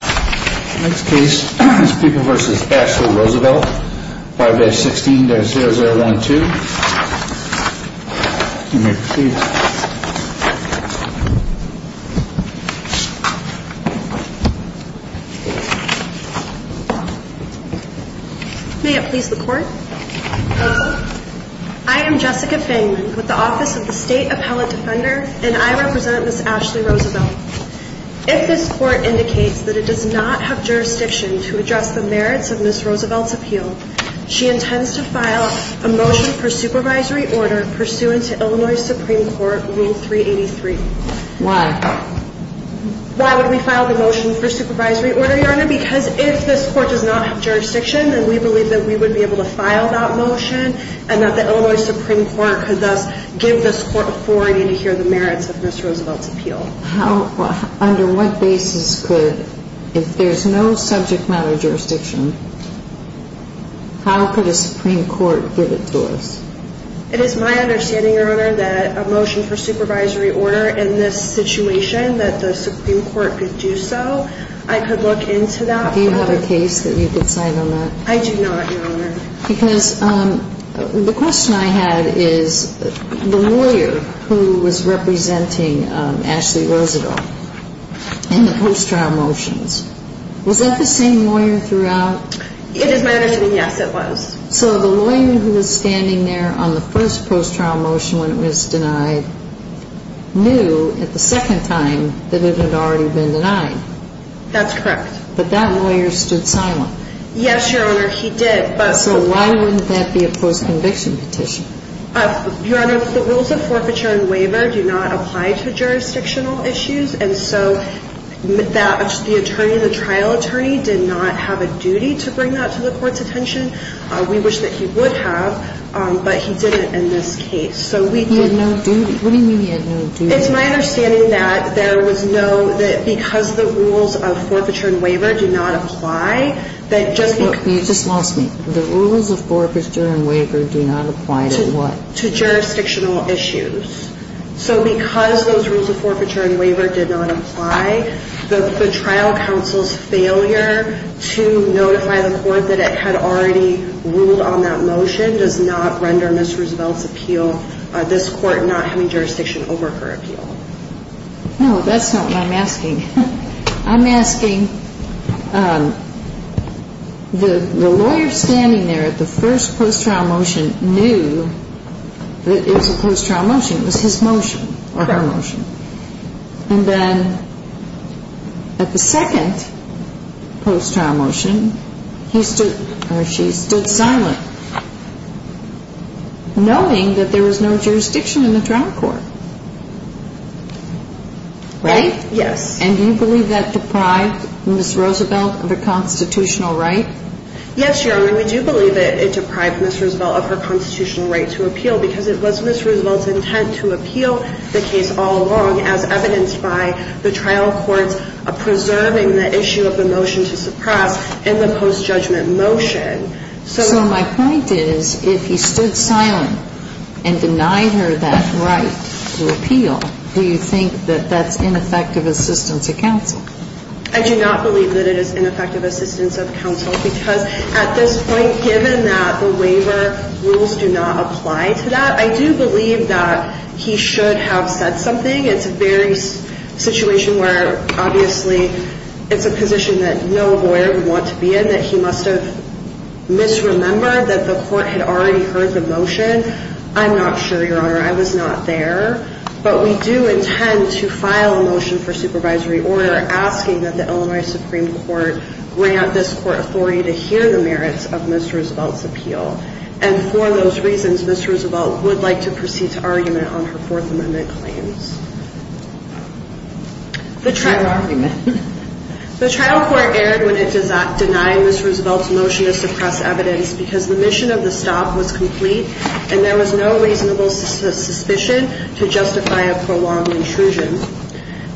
May it please the Court, I am Jessica Feynman with the Office of the State Appellate Defender and I represent Ms. Ashley Roosevelt. If this Court indicates that it does not have jurisdiction to address the merits of Ms. Roosevelt's appeal, she intends to file a motion for supervisory order pursuant to Illinois Supreme Court Rule 383. Why? Why would we file the motion for supervisory order, Your Honor? Because if this Court does not have jurisdiction, then we believe that we would be able to file that motion and that the Illinois Supreme Court could thus give this Court authority to hear the merits of Ms. Roosevelt's appeal. How, under what basis could, if there's no subject matter jurisdiction, how could a Supreme Court give it to us? It is my understanding, Your Honor, that a motion for supervisory order in this situation that the Supreme Court could do so, I could look into that. Do you have a case that you could sign on that? I do not, Your Honor. Because the question I had is the lawyer who was representing Ashley Roosevelt in the post-trial motions, was that the same lawyer throughout? It is my understanding, yes, it was. So the lawyer who was standing there on the first post-trial motion when it was denied knew at the second time that it had already been denied. That's correct. But that lawyer stood silent. Yes, Your Honor, he did. So why wouldn't that be a post-conviction petition? Your Honor, the rules of forfeiture and waiver do not apply to jurisdictional issues. And so that the attorney, the trial attorney, did not have a duty to bring that to the Court's attention. We wish that he would have, but he didn't in this case. He had no duty? What do you mean he had no duty? It's my understanding that there was no – that because the rules of forfeiture and waiver do not apply, that just the – Okay. You just lost me. The rules of forfeiture and waiver do not apply to what? To jurisdictional issues. So because those rules of forfeiture and waiver did not apply, the trial counsel's failure to notify the Court that it had already ruled on that motion does not render Ms. Roosevelt's appeal – this Court not having jurisdiction over her appeal. No, that's not what I'm asking. I'm asking, the lawyer standing there at the first post-trial motion knew that it was a post-trial motion. It was his motion, or her motion. And then at the second post-trial motion, he stood – or she stood silent, knowing that there was no jurisdiction in the trial court. Right? Yes. And do you believe that deprived Ms. Roosevelt of her constitutional right? Yes, Your Honor, we do believe that it deprived Ms. Roosevelt of her constitutional right to appeal because it was Ms. Roosevelt's intent to appeal the case all along, as evidenced by the trial courts preserving the issue of the motion to suppress in the post-judgment motion. So my point is, if he stood silent and denied her that right to appeal, do you think that that's ineffective assistance of counsel? I do not believe that it is ineffective assistance of counsel, because at this point, given that the waiver rules do not apply to that, I do believe that he should have said something. It's a very situation where, obviously, it's a position that no lawyer would want to be in, that he must have misremembered that the court had already heard the motion. I'm not sure, Your Honor. I was not there. But we do intend to file a motion for supervisory order asking that the Illinois Supreme Court grant this court authority to hear the merits of Ms. Roosevelt's appeal. And for those reasons, Ms. Roosevelt would like to proceed to argument on her Fourth Amendment claims. The trial court erred when it denied Ms. Roosevelt's motion to suppress evidence because the mission of the stop was complete, and there was no reasonable suspicion to justify a prolonged intrusion.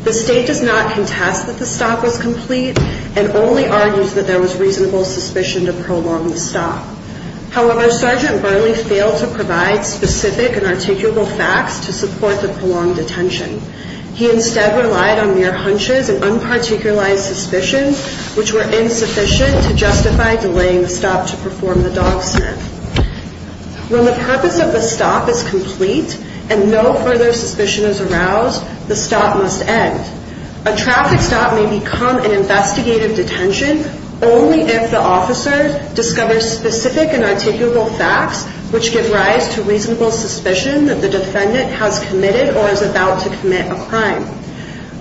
The State does not contest that the stop was complete and only argues that there was reasonable suspicion to prolong the stop. However, Sergeant Burnley failed to provide specific and articulable facts to support the prolonged detention. He instead relied on mere hunches and unparticularized suspicions, which were insufficient to justify delaying the stop to perform the dog sniff. When the purpose of the stop is complete and no further suspicion is aroused, the stop must end. A traffic stop may become an investigative detention only if the officer discovers specific and articulable facts which give rise to reasonable suspicion that the defendant has committed or is about to commit a crime.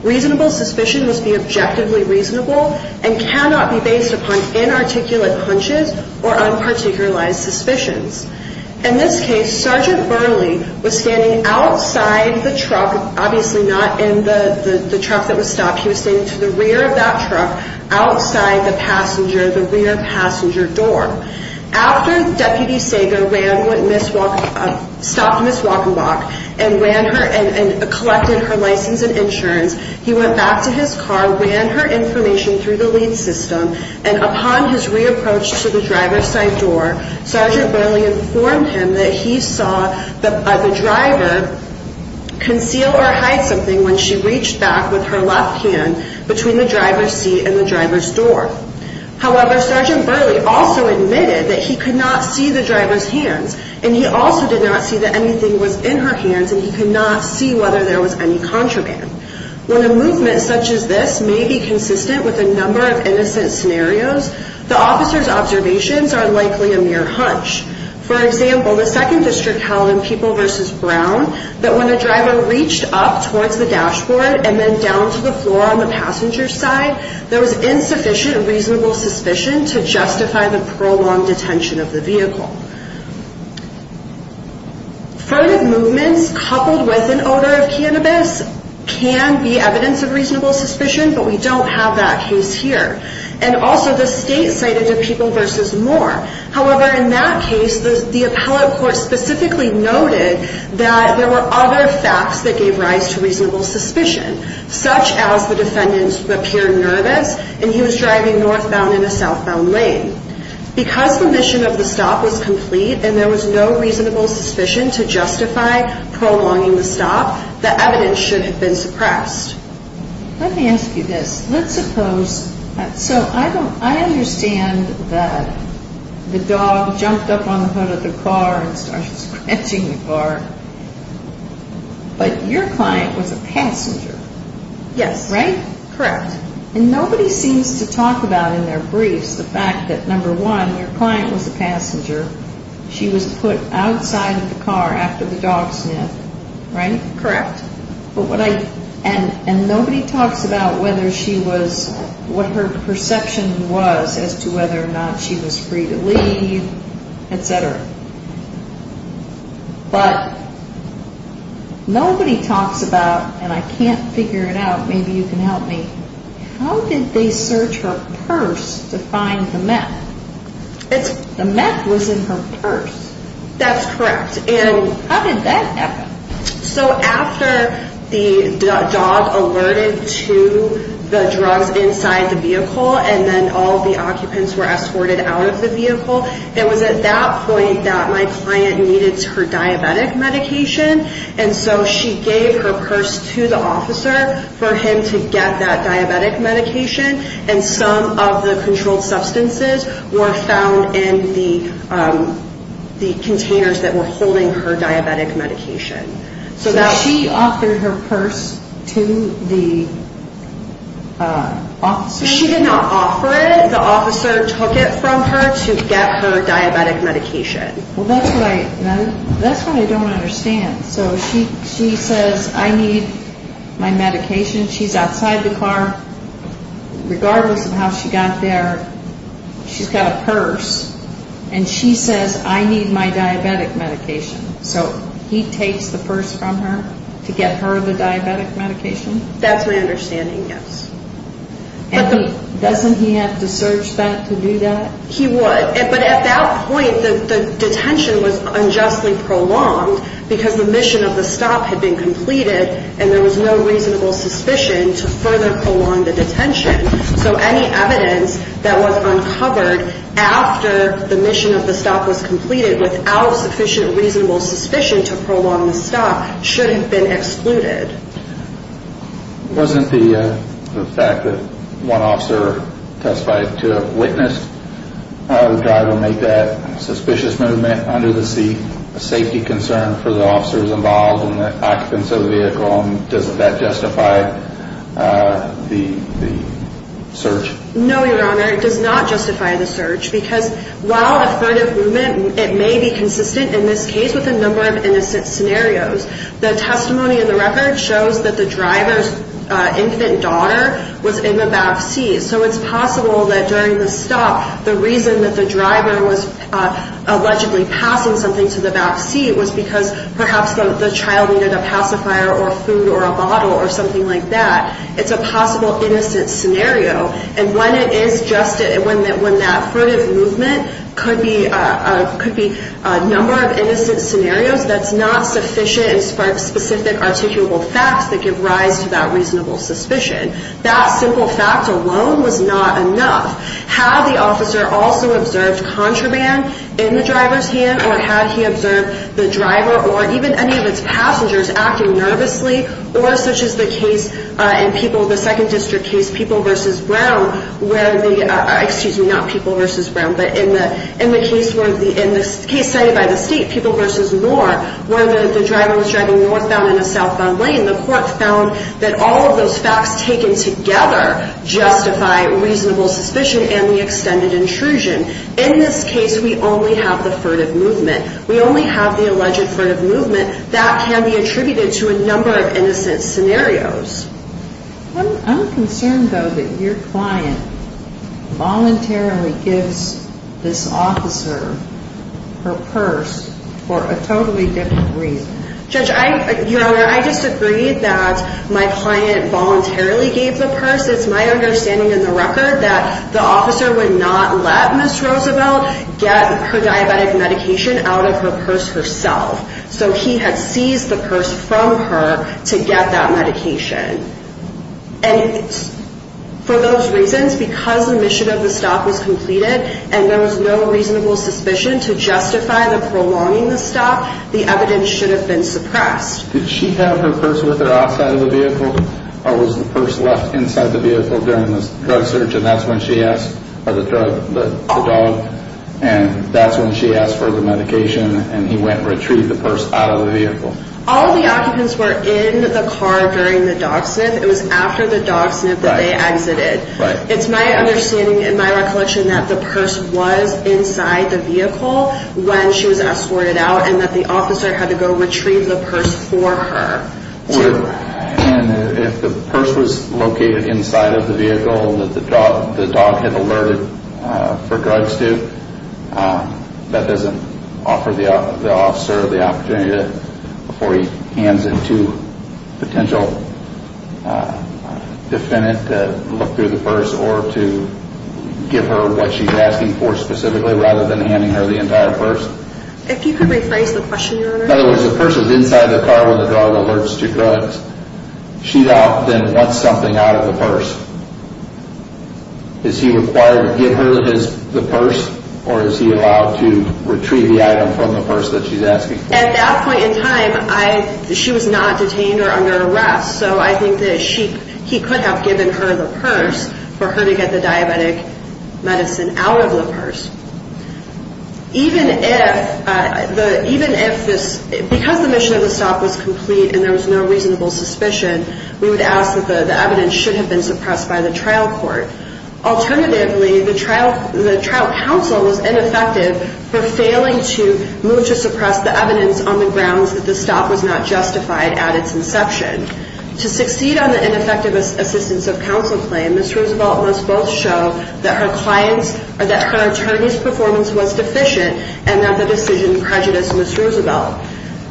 Reasonable suspicion must be objectively reasonable and cannot be based upon inarticulate hunches or unparticularized suspicions. In this case, Sergeant Burnley was standing outside the truck, obviously not in the truck that was stopped. He was standing to the rear of that truck outside the rear passenger door. After Deputy Sager stopped Ms. Walkenbach and collected her license and insurance, he went back to his car, ran her information through the lead system, and upon his re-approach to the driver's side door, Sergeant Burnley informed him that he saw the driver conceal or hide something when she reached back with her left hand between the driver's seat and the driver's door. However, Sergeant Burnley also admitted that he could not see the driver's hands and he also did not see that anything was in her hands and he could not see whether there was any contraband. When a movement such as this may be consistent with a number of innocent scenarios, the officer's observations are likely a mere hunch. For example, the second district held in People v. Brown that when a driver reached up towards the dashboard and then down to the floor on the passenger side, there was insufficient reasonable suspicion to justify the prolonged detention of the vehicle. Furtive movements coupled with an odor of cannabis can be evidence of reasonable suspicion, but we don't have that case here. And also, the state cited the People v. Moore. However, in that case, the appellate court specifically noted that there were other facts that gave rise to reasonable suspicion, such as the defendant appeared nervous and he was driving northbound in a southbound lane. Because the mission of the stop was complete and there was no reasonable suspicion to justify prolonging the stop, the evidence should have been suppressed. Let me ask you this. Let's suppose, so I understand that the dog jumped up on the hood of the car and started scratching the car, but your client was a passenger. Yes. Right? Correct. And nobody seems to talk about in their briefs the fact that, number one, your client was a passenger. She was put outside of the car after the dog sniffed. Right? Correct. And nobody talks about what her perception was as to whether or not she was free to leave, etc. But nobody talks about, and I can't figure it out, maybe you can help me, how did they search her purse to find the meth? The meth was in her purse. That's correct. How did that happen? So after the dog alerted to the drugs inside the vehicle and then all of the occupants were escorted out of the vehicle, it was at that point that my client needed her diabetic medication, and so she gave her purse to the officer for him to get that diabetic medication, and some of the controlled substances were found in the containers that were holding her diabetic medication. So she offered her purse to the officer? She did not offer it. The officer took it from her to get her diabetic medication. Well, that's what I don't understand. So she says, I need my medication. She's outside the car. Regardless of how she got there, she's got a purse, and she says, I need my diabetic medication. So he takes the purse from her to get her the diabetic medication? That's my understanding, yes. And doesn't he have to search that to do that? He would. But at that point, the detention was unjustly prolonged because the mission of the stop had been completed and there was no reasonable suspicion to further prolong the detention. So any evidence that was uncovered after the mission of the stop was completed without sufficient reasonable suspicion to prolong the stop should have been excluded. Wasn't the fact that one officer testified to have witnessed the driver make that suspicious movement under the seat a safety concern for the officers involved and the occupants of the vehicle? And doesn't that justify the search? No, Your Honor, it does not justify the search because while a threat of movement may be consistent in this case with a number of innocent scenarios, the testimony in the record shows that the driver's infant daughter was in the back seat. So it's possible that during the stop, the reason that the driver was allegedly passing something to the back seat was because perhaps the child needed a pacifier or food or a bottle or something like that. It's a possible innocent scenario. And when it is just when that threat of movement could be a number of innocent scenarios, that's not sufficient and sparks specific articulable facts that give rise to that reasonable suspicion. That simple fact alone was not enough. Had the officer also observed contraband in the driver's hand or had he observed the driver or even any of its passengers acting nervously or such as the case in the Second District case, People v. Brown, excuse me, not People v. Brown, but in the case cited by the state, People v. Moore, where the driver was driving northbound in a southbound lane, the court found that all of those facts taken together justify reasonable suspicion and the extended intrusion. In this case, we only have the threat of movement. We only have the alleged threat of movement that can be attributed to a number of innocent scenarios. I'm concerned, though, that your client voluntarily gives this officer her purse for a totally different reason. Judge, Your Honor, I disagree that my client voluntarily gave the purse. It's my understanding in the record that the officer would not let Ms. Roosevelt get her diabetic medication out of her purse herself. So he had seized the purse from her to get that medication. And for those reasons, because the mission of the stop was completed and there was no reasonable suspicion to justify the prolonging the stop, the evidence should have been suppressed. Did she have her purse with her outside of the vehicle or was the purse left inside the vehicle during the drug search? And that's when she asked for the drug, the dog, and that's when she asked for the medication and he went and retrieved the purse out of the vehicle. All the occupants were in the car during the dog sniff. It was after the dog sniff that they exited. It's my understanding and my recollection that the purse was inside the vehicle when she was escorted out and that the officer had to go retrieve the purse for her. And if the purse was located inside of the vehicle that the dog had alerted for drugs to, that doesn't offer the officer the opportunity before he hands it to a potential defendant to look through the purse or to give her what she's asking for specifically rather than handing her the entire purse? If you could rephrase the question, Your Honor. In other words, the purse was inside the car when the dog alerts to drugs. She then wants something out of the purse. Is he required to give her the purse or is he allowed to retrieve the item from the purse that she's asking for? At that point in time, she was not detained or under arrest, so I think that he could have given her the purse for her to get the diabetic medicine out of the purse. Because the mission of the stop was complete and there was no reasonable suspicion, we would ask that the evidence should have been suppressed by the trial court. Alternatively, the trial counsel was ineffective for failing to move to suppress the evidence on the grounds that the stop was not justified at its inception. To succeed on the ineffective assistance of counsel claim, Ms. Roosevelt must both show that her attorney's performance was deficient and that the decision prejudiced Ms. Roosevelt.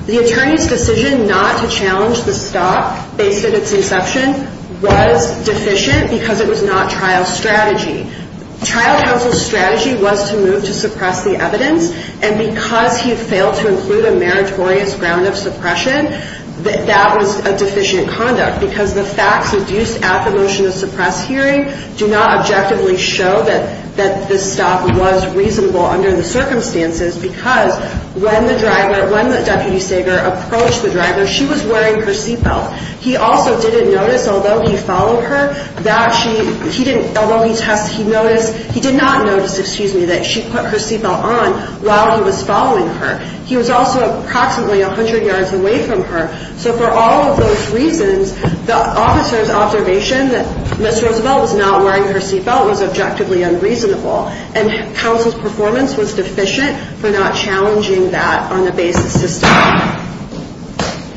The attorney's decision not to challenge the stop based on its inception was deficient because it was not trial strategy. Trial counsel's strategy was to move to suppress the evidence, and because he failed to include a meritorious ground of suppression, that was a deficient conduct because the facts reduced at the motion to suppress hearing do not objectively show that this stop was reasonable under the circumstances because when the driver, when the deputy saver approached the driver, she was wearing her seatbelt. He also didn't notice, although he followed her, that she, he didn't, although he test, he noticed, he did not notice, excuse me, that she put her seatbelt on while he was following her. He was also approximately 100 yards away from her. So for all of those reasons, the officer's observation that Ms. Roosevelt was not wearing her seatbelt was objectively unreasonable, and counsel's performance was deficient for not challenging that on the basis of stop.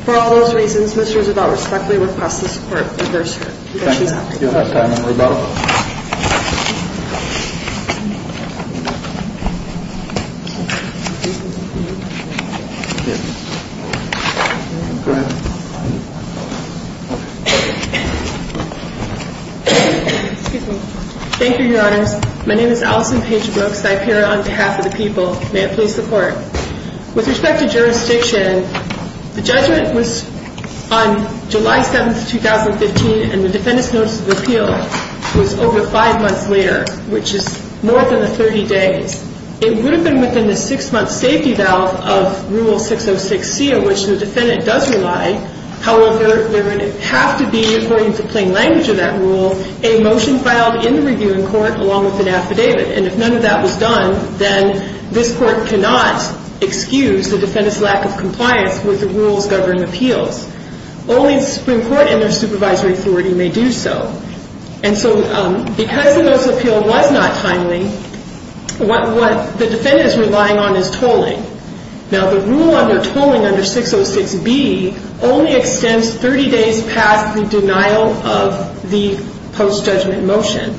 For all those reasons, Ms. Roosevelt respectfully requests this court reverse her conviction. Thank you, Your Honor. Thank you, Your Honors. My name is Allison Page Brooks. I appear on behalf of the people. May it please the Court. With respect to jurisdiction, the judgment was on July 7th, 2015, and the defendant's notice of appeal was over five months later, which is more than the 30 days. It would have been within the six-month safety valve of Rule 606C, of which the defendant does rely. However, there would have to be, according to plain language of that rule, a motion filed in the reviewing court along with an affidavit. And if none of that was done, then this Court cannot excuse the defendant's lack of compliance with the rules governing appeals. Only the Supreme Court and their supervisory authority may do so. And so because the notice of appeal was not timely, what the defendant is relying on is tolling. Now, the rule under tolling under 606B only extends 30 days past the denial of the post-judgment motion.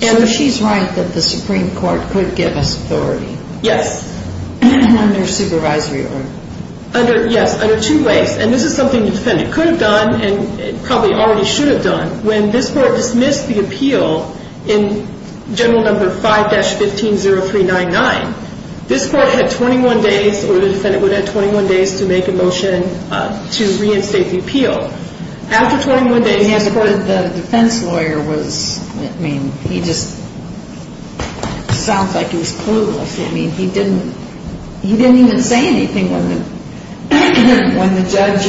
So she's right that the Supreme Court could give us authority? Yes. Under supervisory order? Yes, under two ways. And this is something the defendant could have done and probably already should have done. When this Court dismissed the appeal in General No. 5-150399, this Court had 21 days, or the defendant would have had 21 days, to make a motion to reinstate the appeal. After 21 days, the defense lawyer was, I mean, he just sounds like he was clueless. I mean, he didn't even say anything when the judge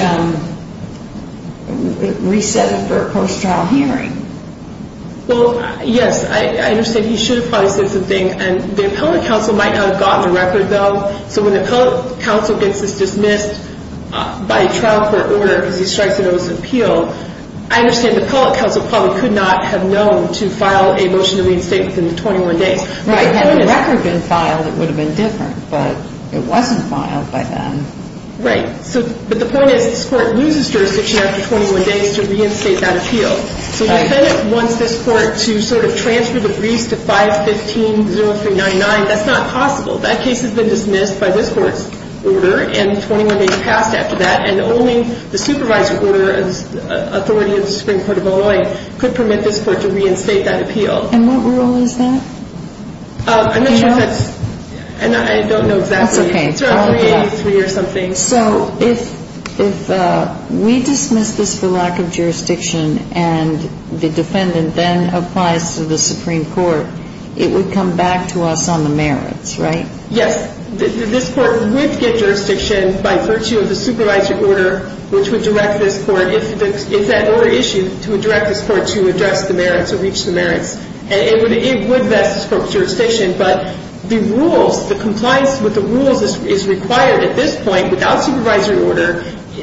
reset it for a post-trial hearing. Well, yes, I understand. He should have probably said something. And the appellate counsel might not have gotten the record, though. So when the appellate counsel gets this dismissed by trial court order because he strikes a notice of appeal, I understand the appellate counsel probably could not have known to file a motion to reinstate within the 21 days. Right. Had the record been filed, it would have been different, but it wasn't filed by then. Right. But the point is this Court loses jurisdiction after 21 days to reinstate that appeal. Right. So the defendant wants this Court to sort of transfer the briefs to 5-150399. That's not possible. That case has been dismissed by this Court's order, and 21 days passed after that, and only the supervisory order of authority of the Supreme Court of Illinois could permit this Court to reinstate that appeal. And what rule is that? I'm not sure if that's – and I don't know exactly. That's okay. It's around 383 or something. So if we dismiss this for lack of jurisdiction and the defendant then applies to the Supreme Court, it would come back to us on the merits, right? Yes. This Court would get jurisdiction by virtue of the supervisory order which would direct this Court, if that order issued, to direct this Court to address the merits or reach the merits, and it would vest this Court with jurisdiction. But the rules, the compliance with the rules is required at this point. Without supervisory order,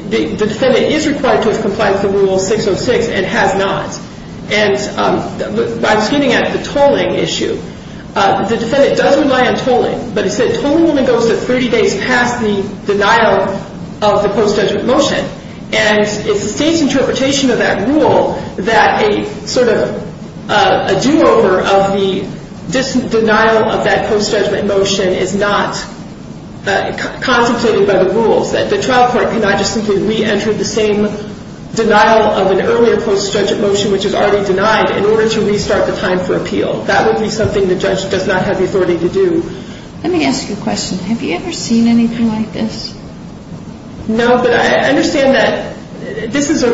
the defendant is required to have complied with the Rule 606 and has not. And I was getting at the tolling issue. The defendant does rely on tolling, but it said tolling only goes to 30 days past the denial of the post-judgment motion, and it's the State's interpretation of that rule that a sort of a do-over of the denial of that post-judgment motion is not constituted by the rules, that the trial court cannot just simply re-enter the same denial of an earlier post-judgment motion which is already denied in order to restart the time for appeal. That would be something the judge does not have the authority to do. Let me ask you a question. Have you ever seen anything like this? No, but I understand that this is sort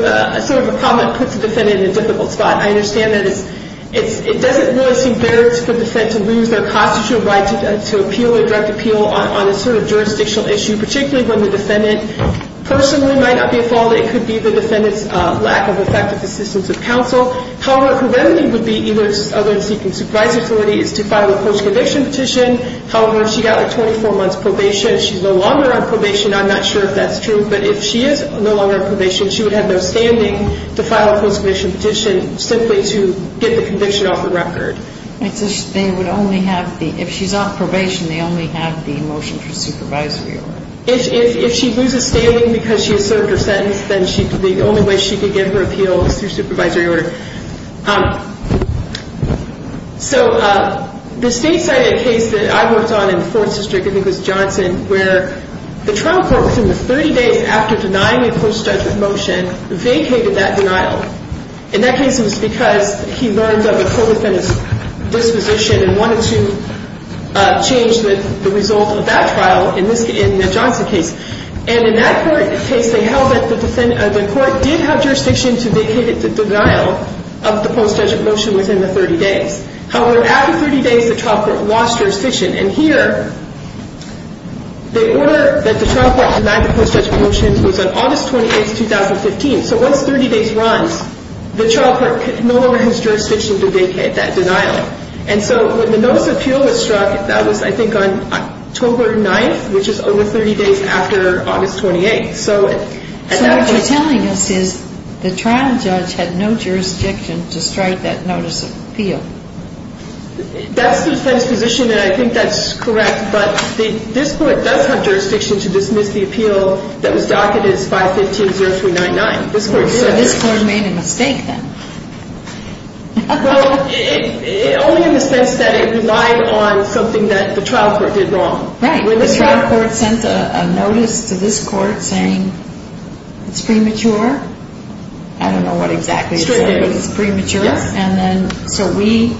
of a problem that puts the defendant in a difficult spot. I understand that it doesn't really seem fair for the defendant to lose their constitutional right to appeal or direct appeal on a sort of jurisdictional issue, particularly when the defendant personally might not be at fault. It could be the defendant's lack of effective assistance of counsel. However, her remedy would be, other than seeking supervisory authority, is to file a post-conviction petition. However, if she got a 24-month probation, she's no longer on probation. I'm not sure if that's true, but if she is no longer on probation, she would have no standing to file a post-conviction petition simply to get the conviction off the record. If she's on probation, they only have the motion for supervisory order. If she loses standing because she has served her sentence, then the only way she could get her appeal is through supervisory order. So the state cited a case that I worked on in the Fourth District, I think it was Johnson, where the trial court, within the 30 days after denying a post-judgment motion, vacated that denial. And that case was because he learned of a co-defendant's disposition and wanted to change the result of that trial in the Johnson case. And in that case, they held that the court did have jurisdiction to vacate the denial, of the post-judgment motion within the 30 days. However, after 30 days, the trial court lost jurisdiction. And here, the order that the trial court denied the post-judgment motion was on August 28th, 2015. So once 30 days runs, the trial court no longer has jurisdiction to vacate that denial. And so when the notice of appeal was struck, that was, I think, on October 9th, which is over 30 days after August 28th. So what you're telling us is the trial judge had no jurisdiction to strike that notice of appeal. That's the defense position, and I think that's correct. But this court does have jurisdiction to dismiss the appeal that was docketed as 515-0399. So this court made a mistake then. Well, only in the sense that it relied on something that the trial court did wrong. Right. The trial court sent a notice to this court saying it's premature. I don't know what exactly it said, but it's premature. And then so we,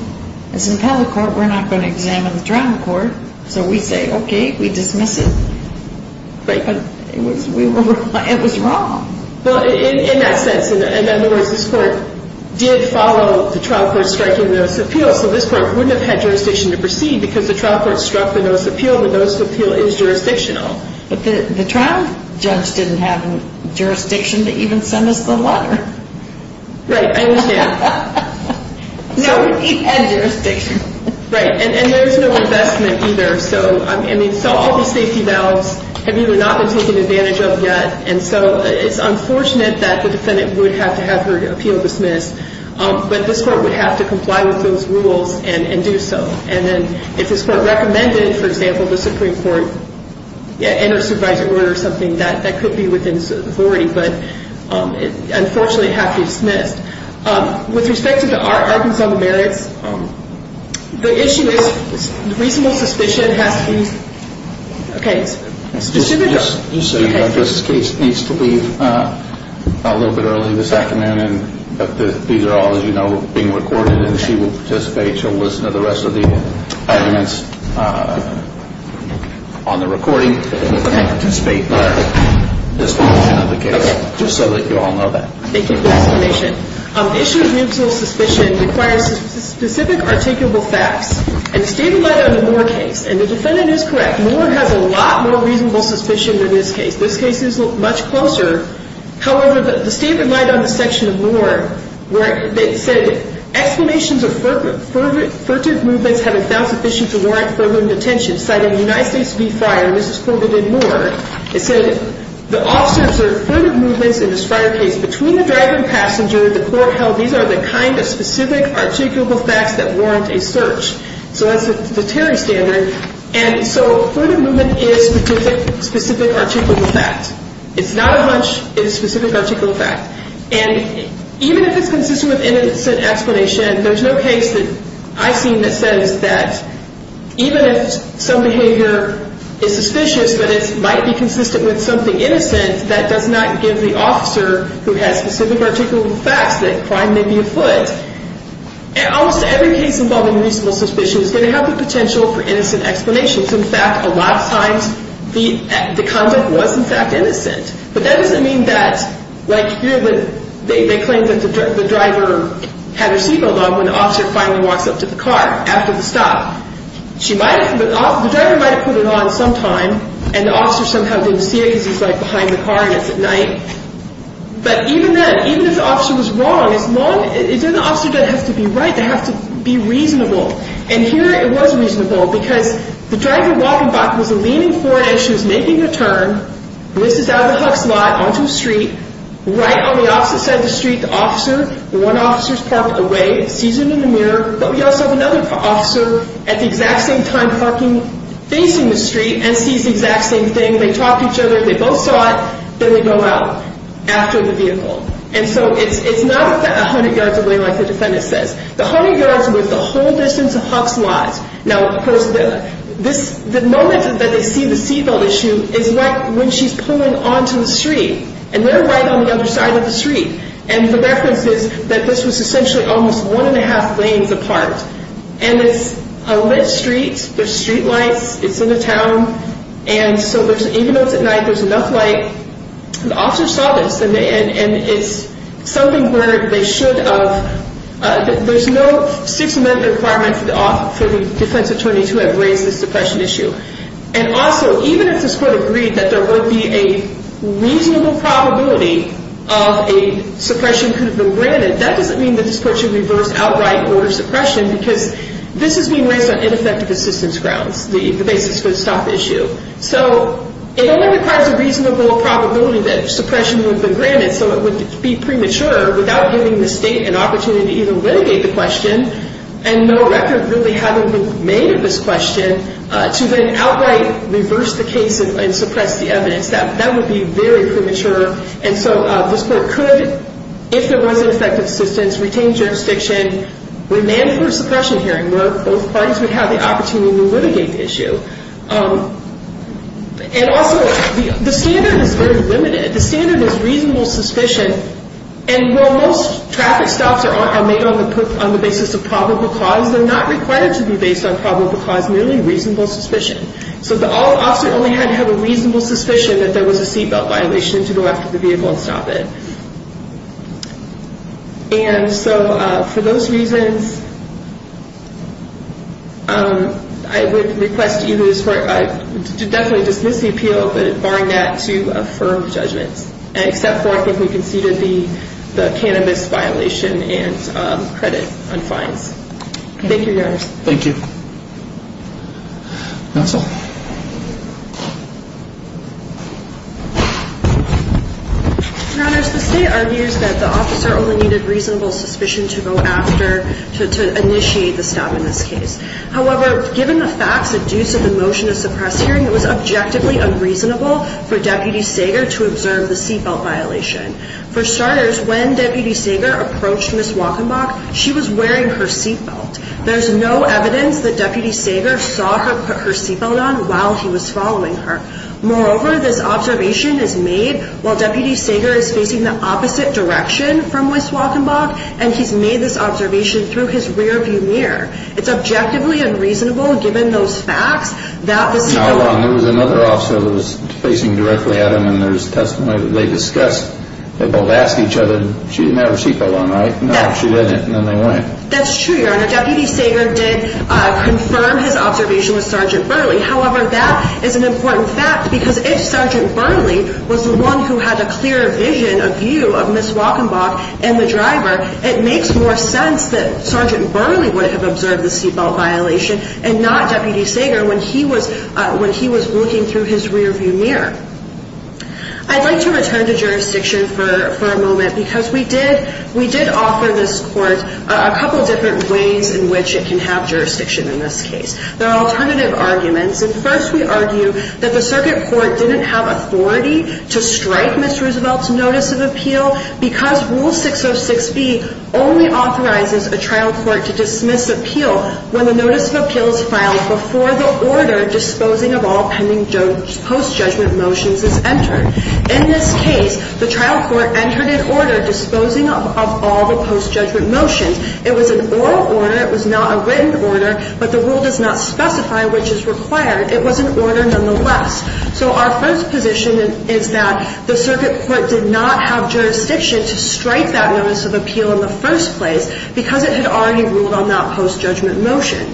as an appellate court, we're not going to examine the trial court. So we say, okay, we dismiss it. But it was wrong. Well, in that sense, in other words, this court did follow the trial court striking the notice of appeal. So this court wouldn't have had jurisdiction to proceed because the trial court struck the notice of appeal. The notice of appeal is jurisdictional. But the trial judge didn't have jurisdiction to even send us the letter. Right. I understand. No, he had jurisdiction. Right. And there was no investment either. So all these safety valves have either not been taken advantage of yet. And so it's unfortunate that the defendant would have to have her appeal dismissed. But this court would have to comply with those rules and do so. And then if this court recommended, for example, the Supreme Court enter supervisory order or something, that could be within authority. But unfortunately, it would have to be dismissed. With respect to the Arkansas merits, the issue is reasonable suspicion has to be. Okay. This case needs to leave a little bit early this afternoon. These are all, as you know, being recorded. And she will participate. She'll listen to the rest of the arguments on the recording. Okay. Participate in our discussion of the case, just so that you all know that. Thank you for the explanation. The issue of reasonable suspicion requires specific articulable facts. And the statement lied on the Moore case. And the defendant is correct. Moore has a lot more reasonable suspicion than this case. This case is much closer. However, the statement lied on the section of Moore where it said, explanations of furtive movements have been found sufficient to warrant furtive detention. Citing United States v. Friar, and this is quoted in Moore, it said, the officer observed furtive movements in this Friar case between the driver and passenger. The court held these are the kind of specific articulable facts that warrant a search. So that's the Terry standard. And so furtive movement is specific articulable facts. It's not a hunch. It's a specific articulable fact. And even if it's consistent with innocent explanation, there's no case that I've seen that says that even if some behavior is suspicious, but it might be consistent with something innocent, that does not give the officer who has specific articulable facts that crime may be afoot. Almost every case involving reasonable suspicion is going to have the potential for innocent explanations. In fact, a lot of times the content was, in fact, innocent. But that doesn't mean that, like here, they claim that the driver had her seatbelt on when the officer finally walks up to the car after the stop. The driver might have put it on sometime, and the officer somehow didn't see it because he's, like, behind the car and it's at night. But even then, even if the officer was wrong, it's not the officer that has to be right. They have to be reasonable. And here it was reasonable because the driver walking back was leaning forward as she was making her turn. This is out of the Huck's lot, onto the street. Right on the opposite side of the street, the officer, one officer's parked away, sees her in the mirror. But we also have another officer at the exact same time parking facing the street and sees the exact same thing. They talk to each other. They both saw it. Then they go out after the vehicle. And so it's not 100 yards away like the defendant says. The 100 yards was the whole distance of Huck's lot. Now, the moment that they see the seatbelt issue is when she's pulling onto the street. And they're right on the other side of the street. And the reference is that this was essentially almost one and a half lanes apart. And it's a lit street. There's streetlights. It's in a town. And so even though it's at night, there's enough light. The officers saw this. And it's something where they should have. There's no six-amendment requirement for the defense attorney to have raised this suppression issue. And also, even if this court agreed that there would be a reasonable probability of a suppression could have been granted, that doesn't mean that this court should reverse outright order suppression because this is being raised on ineffective assistance grounds, the basis for the stop issue. So it only requires a reasonable probability that suppression would have been granted, so it would be premature without giving the state an opportunity to even litigate the question, and no record really having been made of this question, to then outright reverse the case and suppress the evidence. That would be very premature. And so this court could, if there was ineffective assistance, retain jurisdiction, demand for a suppression hearing where both parties would have the opportunity to litigate the issue. And also, the standard is very limited. The standard is reasonable suspicion. And while most traffic stops are made on the basis of probable cause, they're not required to be based on probable cause, merely reasonable suspicion. So the officer only had to have a reasonable suspicion that there was a seatbelt violation to go after the vehicle and stop it. And so for those reasons, I would request you to definitely dismiss the appeal, but barring that, to affirm the judgment, except for I think we conceded the cannabis violation and credit on fines. Thank you, Your Honors. Thank you. Counsel? Your Honors, the state argues that the officer only needed reasonable suspicion to go after, to initiate the stop in this case. However, given the facts, the deuce of the motion to suppress hearing, it was objectively unreasonable for Deputy Sager to observe the seatbelt violation. For starters, when Deputy Sager approached Ms. Wachenbach, she was wearing her seatbelt. There's no evidence that Deputy Sager saw her put her seatbelt on while he was following her. Moreover, this observation is made while Deputy Sager is facing the opposite direction from Ms. Wachenbach, and he's made this observation through his rear-view mirror. It's objectively unreasonable, given those facts, that the seatbelt... Now hold on, there was another officer that was facing directly at him in their testimony. They discussed, they both asked each other, she didn't have her seatbelt on, right? No, she didn't. And then they went. That's true, Your Honor. Deputy Sager did confirm his observation with Sgt. Burley. However, that is an important fact, because if Sgt. Burley was the one who had a clear vision, a view of Ms. Wachenbach and the driver, it makes more sense that Sgt. Burley would have observed the seatbelt violation, and not Deputy Sager when he was looking through his rear-view mirror. I'd like to return to jurisdiction for a moment, because we did offer this Court a couple different ways in which it can have jurisdiction in this case. There are alternative arguments. First, we argue that the circuit court didn't have authority to strike Ms. Roosevelt's notice of appeal, because Rule 606B only authorizes a trial court to dismiss appeal when the notice of appeal is filed before the order disposing of all pending post-judgment motions is entered. In this case, the trial court entered an order disposing of all the post-judgment motions. It was an oral order. It was not a written order, but the rule does not specify which is required. It was an order nonetheless. So our first position is that the circuit court did not have jurisdiction to strike that notice of appeal in the first place, because it had already ruled on that post-judgment motion.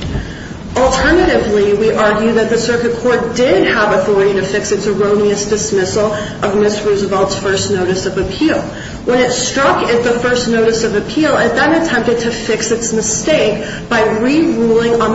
Alternatively, we argue that the circuit court did have authority to fix its erroneous dismissal of Ms. Roosevelt's first notice of appeal. When it struck the first notice of appeal, it then attempted to fix its mistake by re-ruling on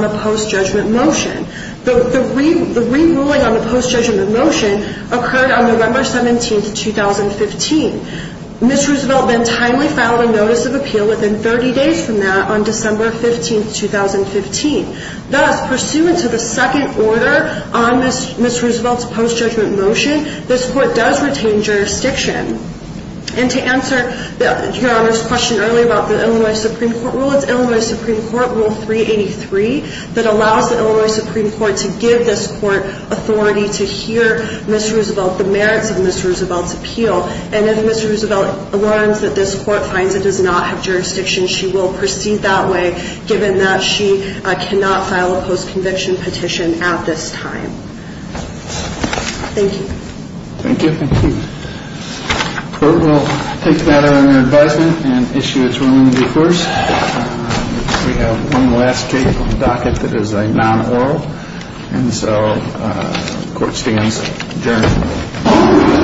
the post-judgment motion. The re-ruling on the post-judgment motion occurred on November 17, 2015. Ms. Roosevelt then timely filed a notice of appeal within 30 days from that on December 15, 2015. Thus, pursuant to the second order on Ms. Roosevelt's post-judgment motion, this court does retain jurisdiction. And to answer Your Honor's question earlier about the Illinois Supreme Court rule, it's Illinois Supreme Court Rule 383 that allows the Illinois Supreme Court to give this court authority to hear Ms. Roosevelt, the merits of Ms. Roosevelt's appeal. And if Ms. Roosevelt learns that this court finds it does not have jurisdiction, she will proceed that way, given that she cannot file a post-conviction petition at this time. Thank you. Thank you. Thank you. The court will take that on their advisement and issue its reluminy first. We have one last case on the docket that is a non-oral. And so the court stands adjourned.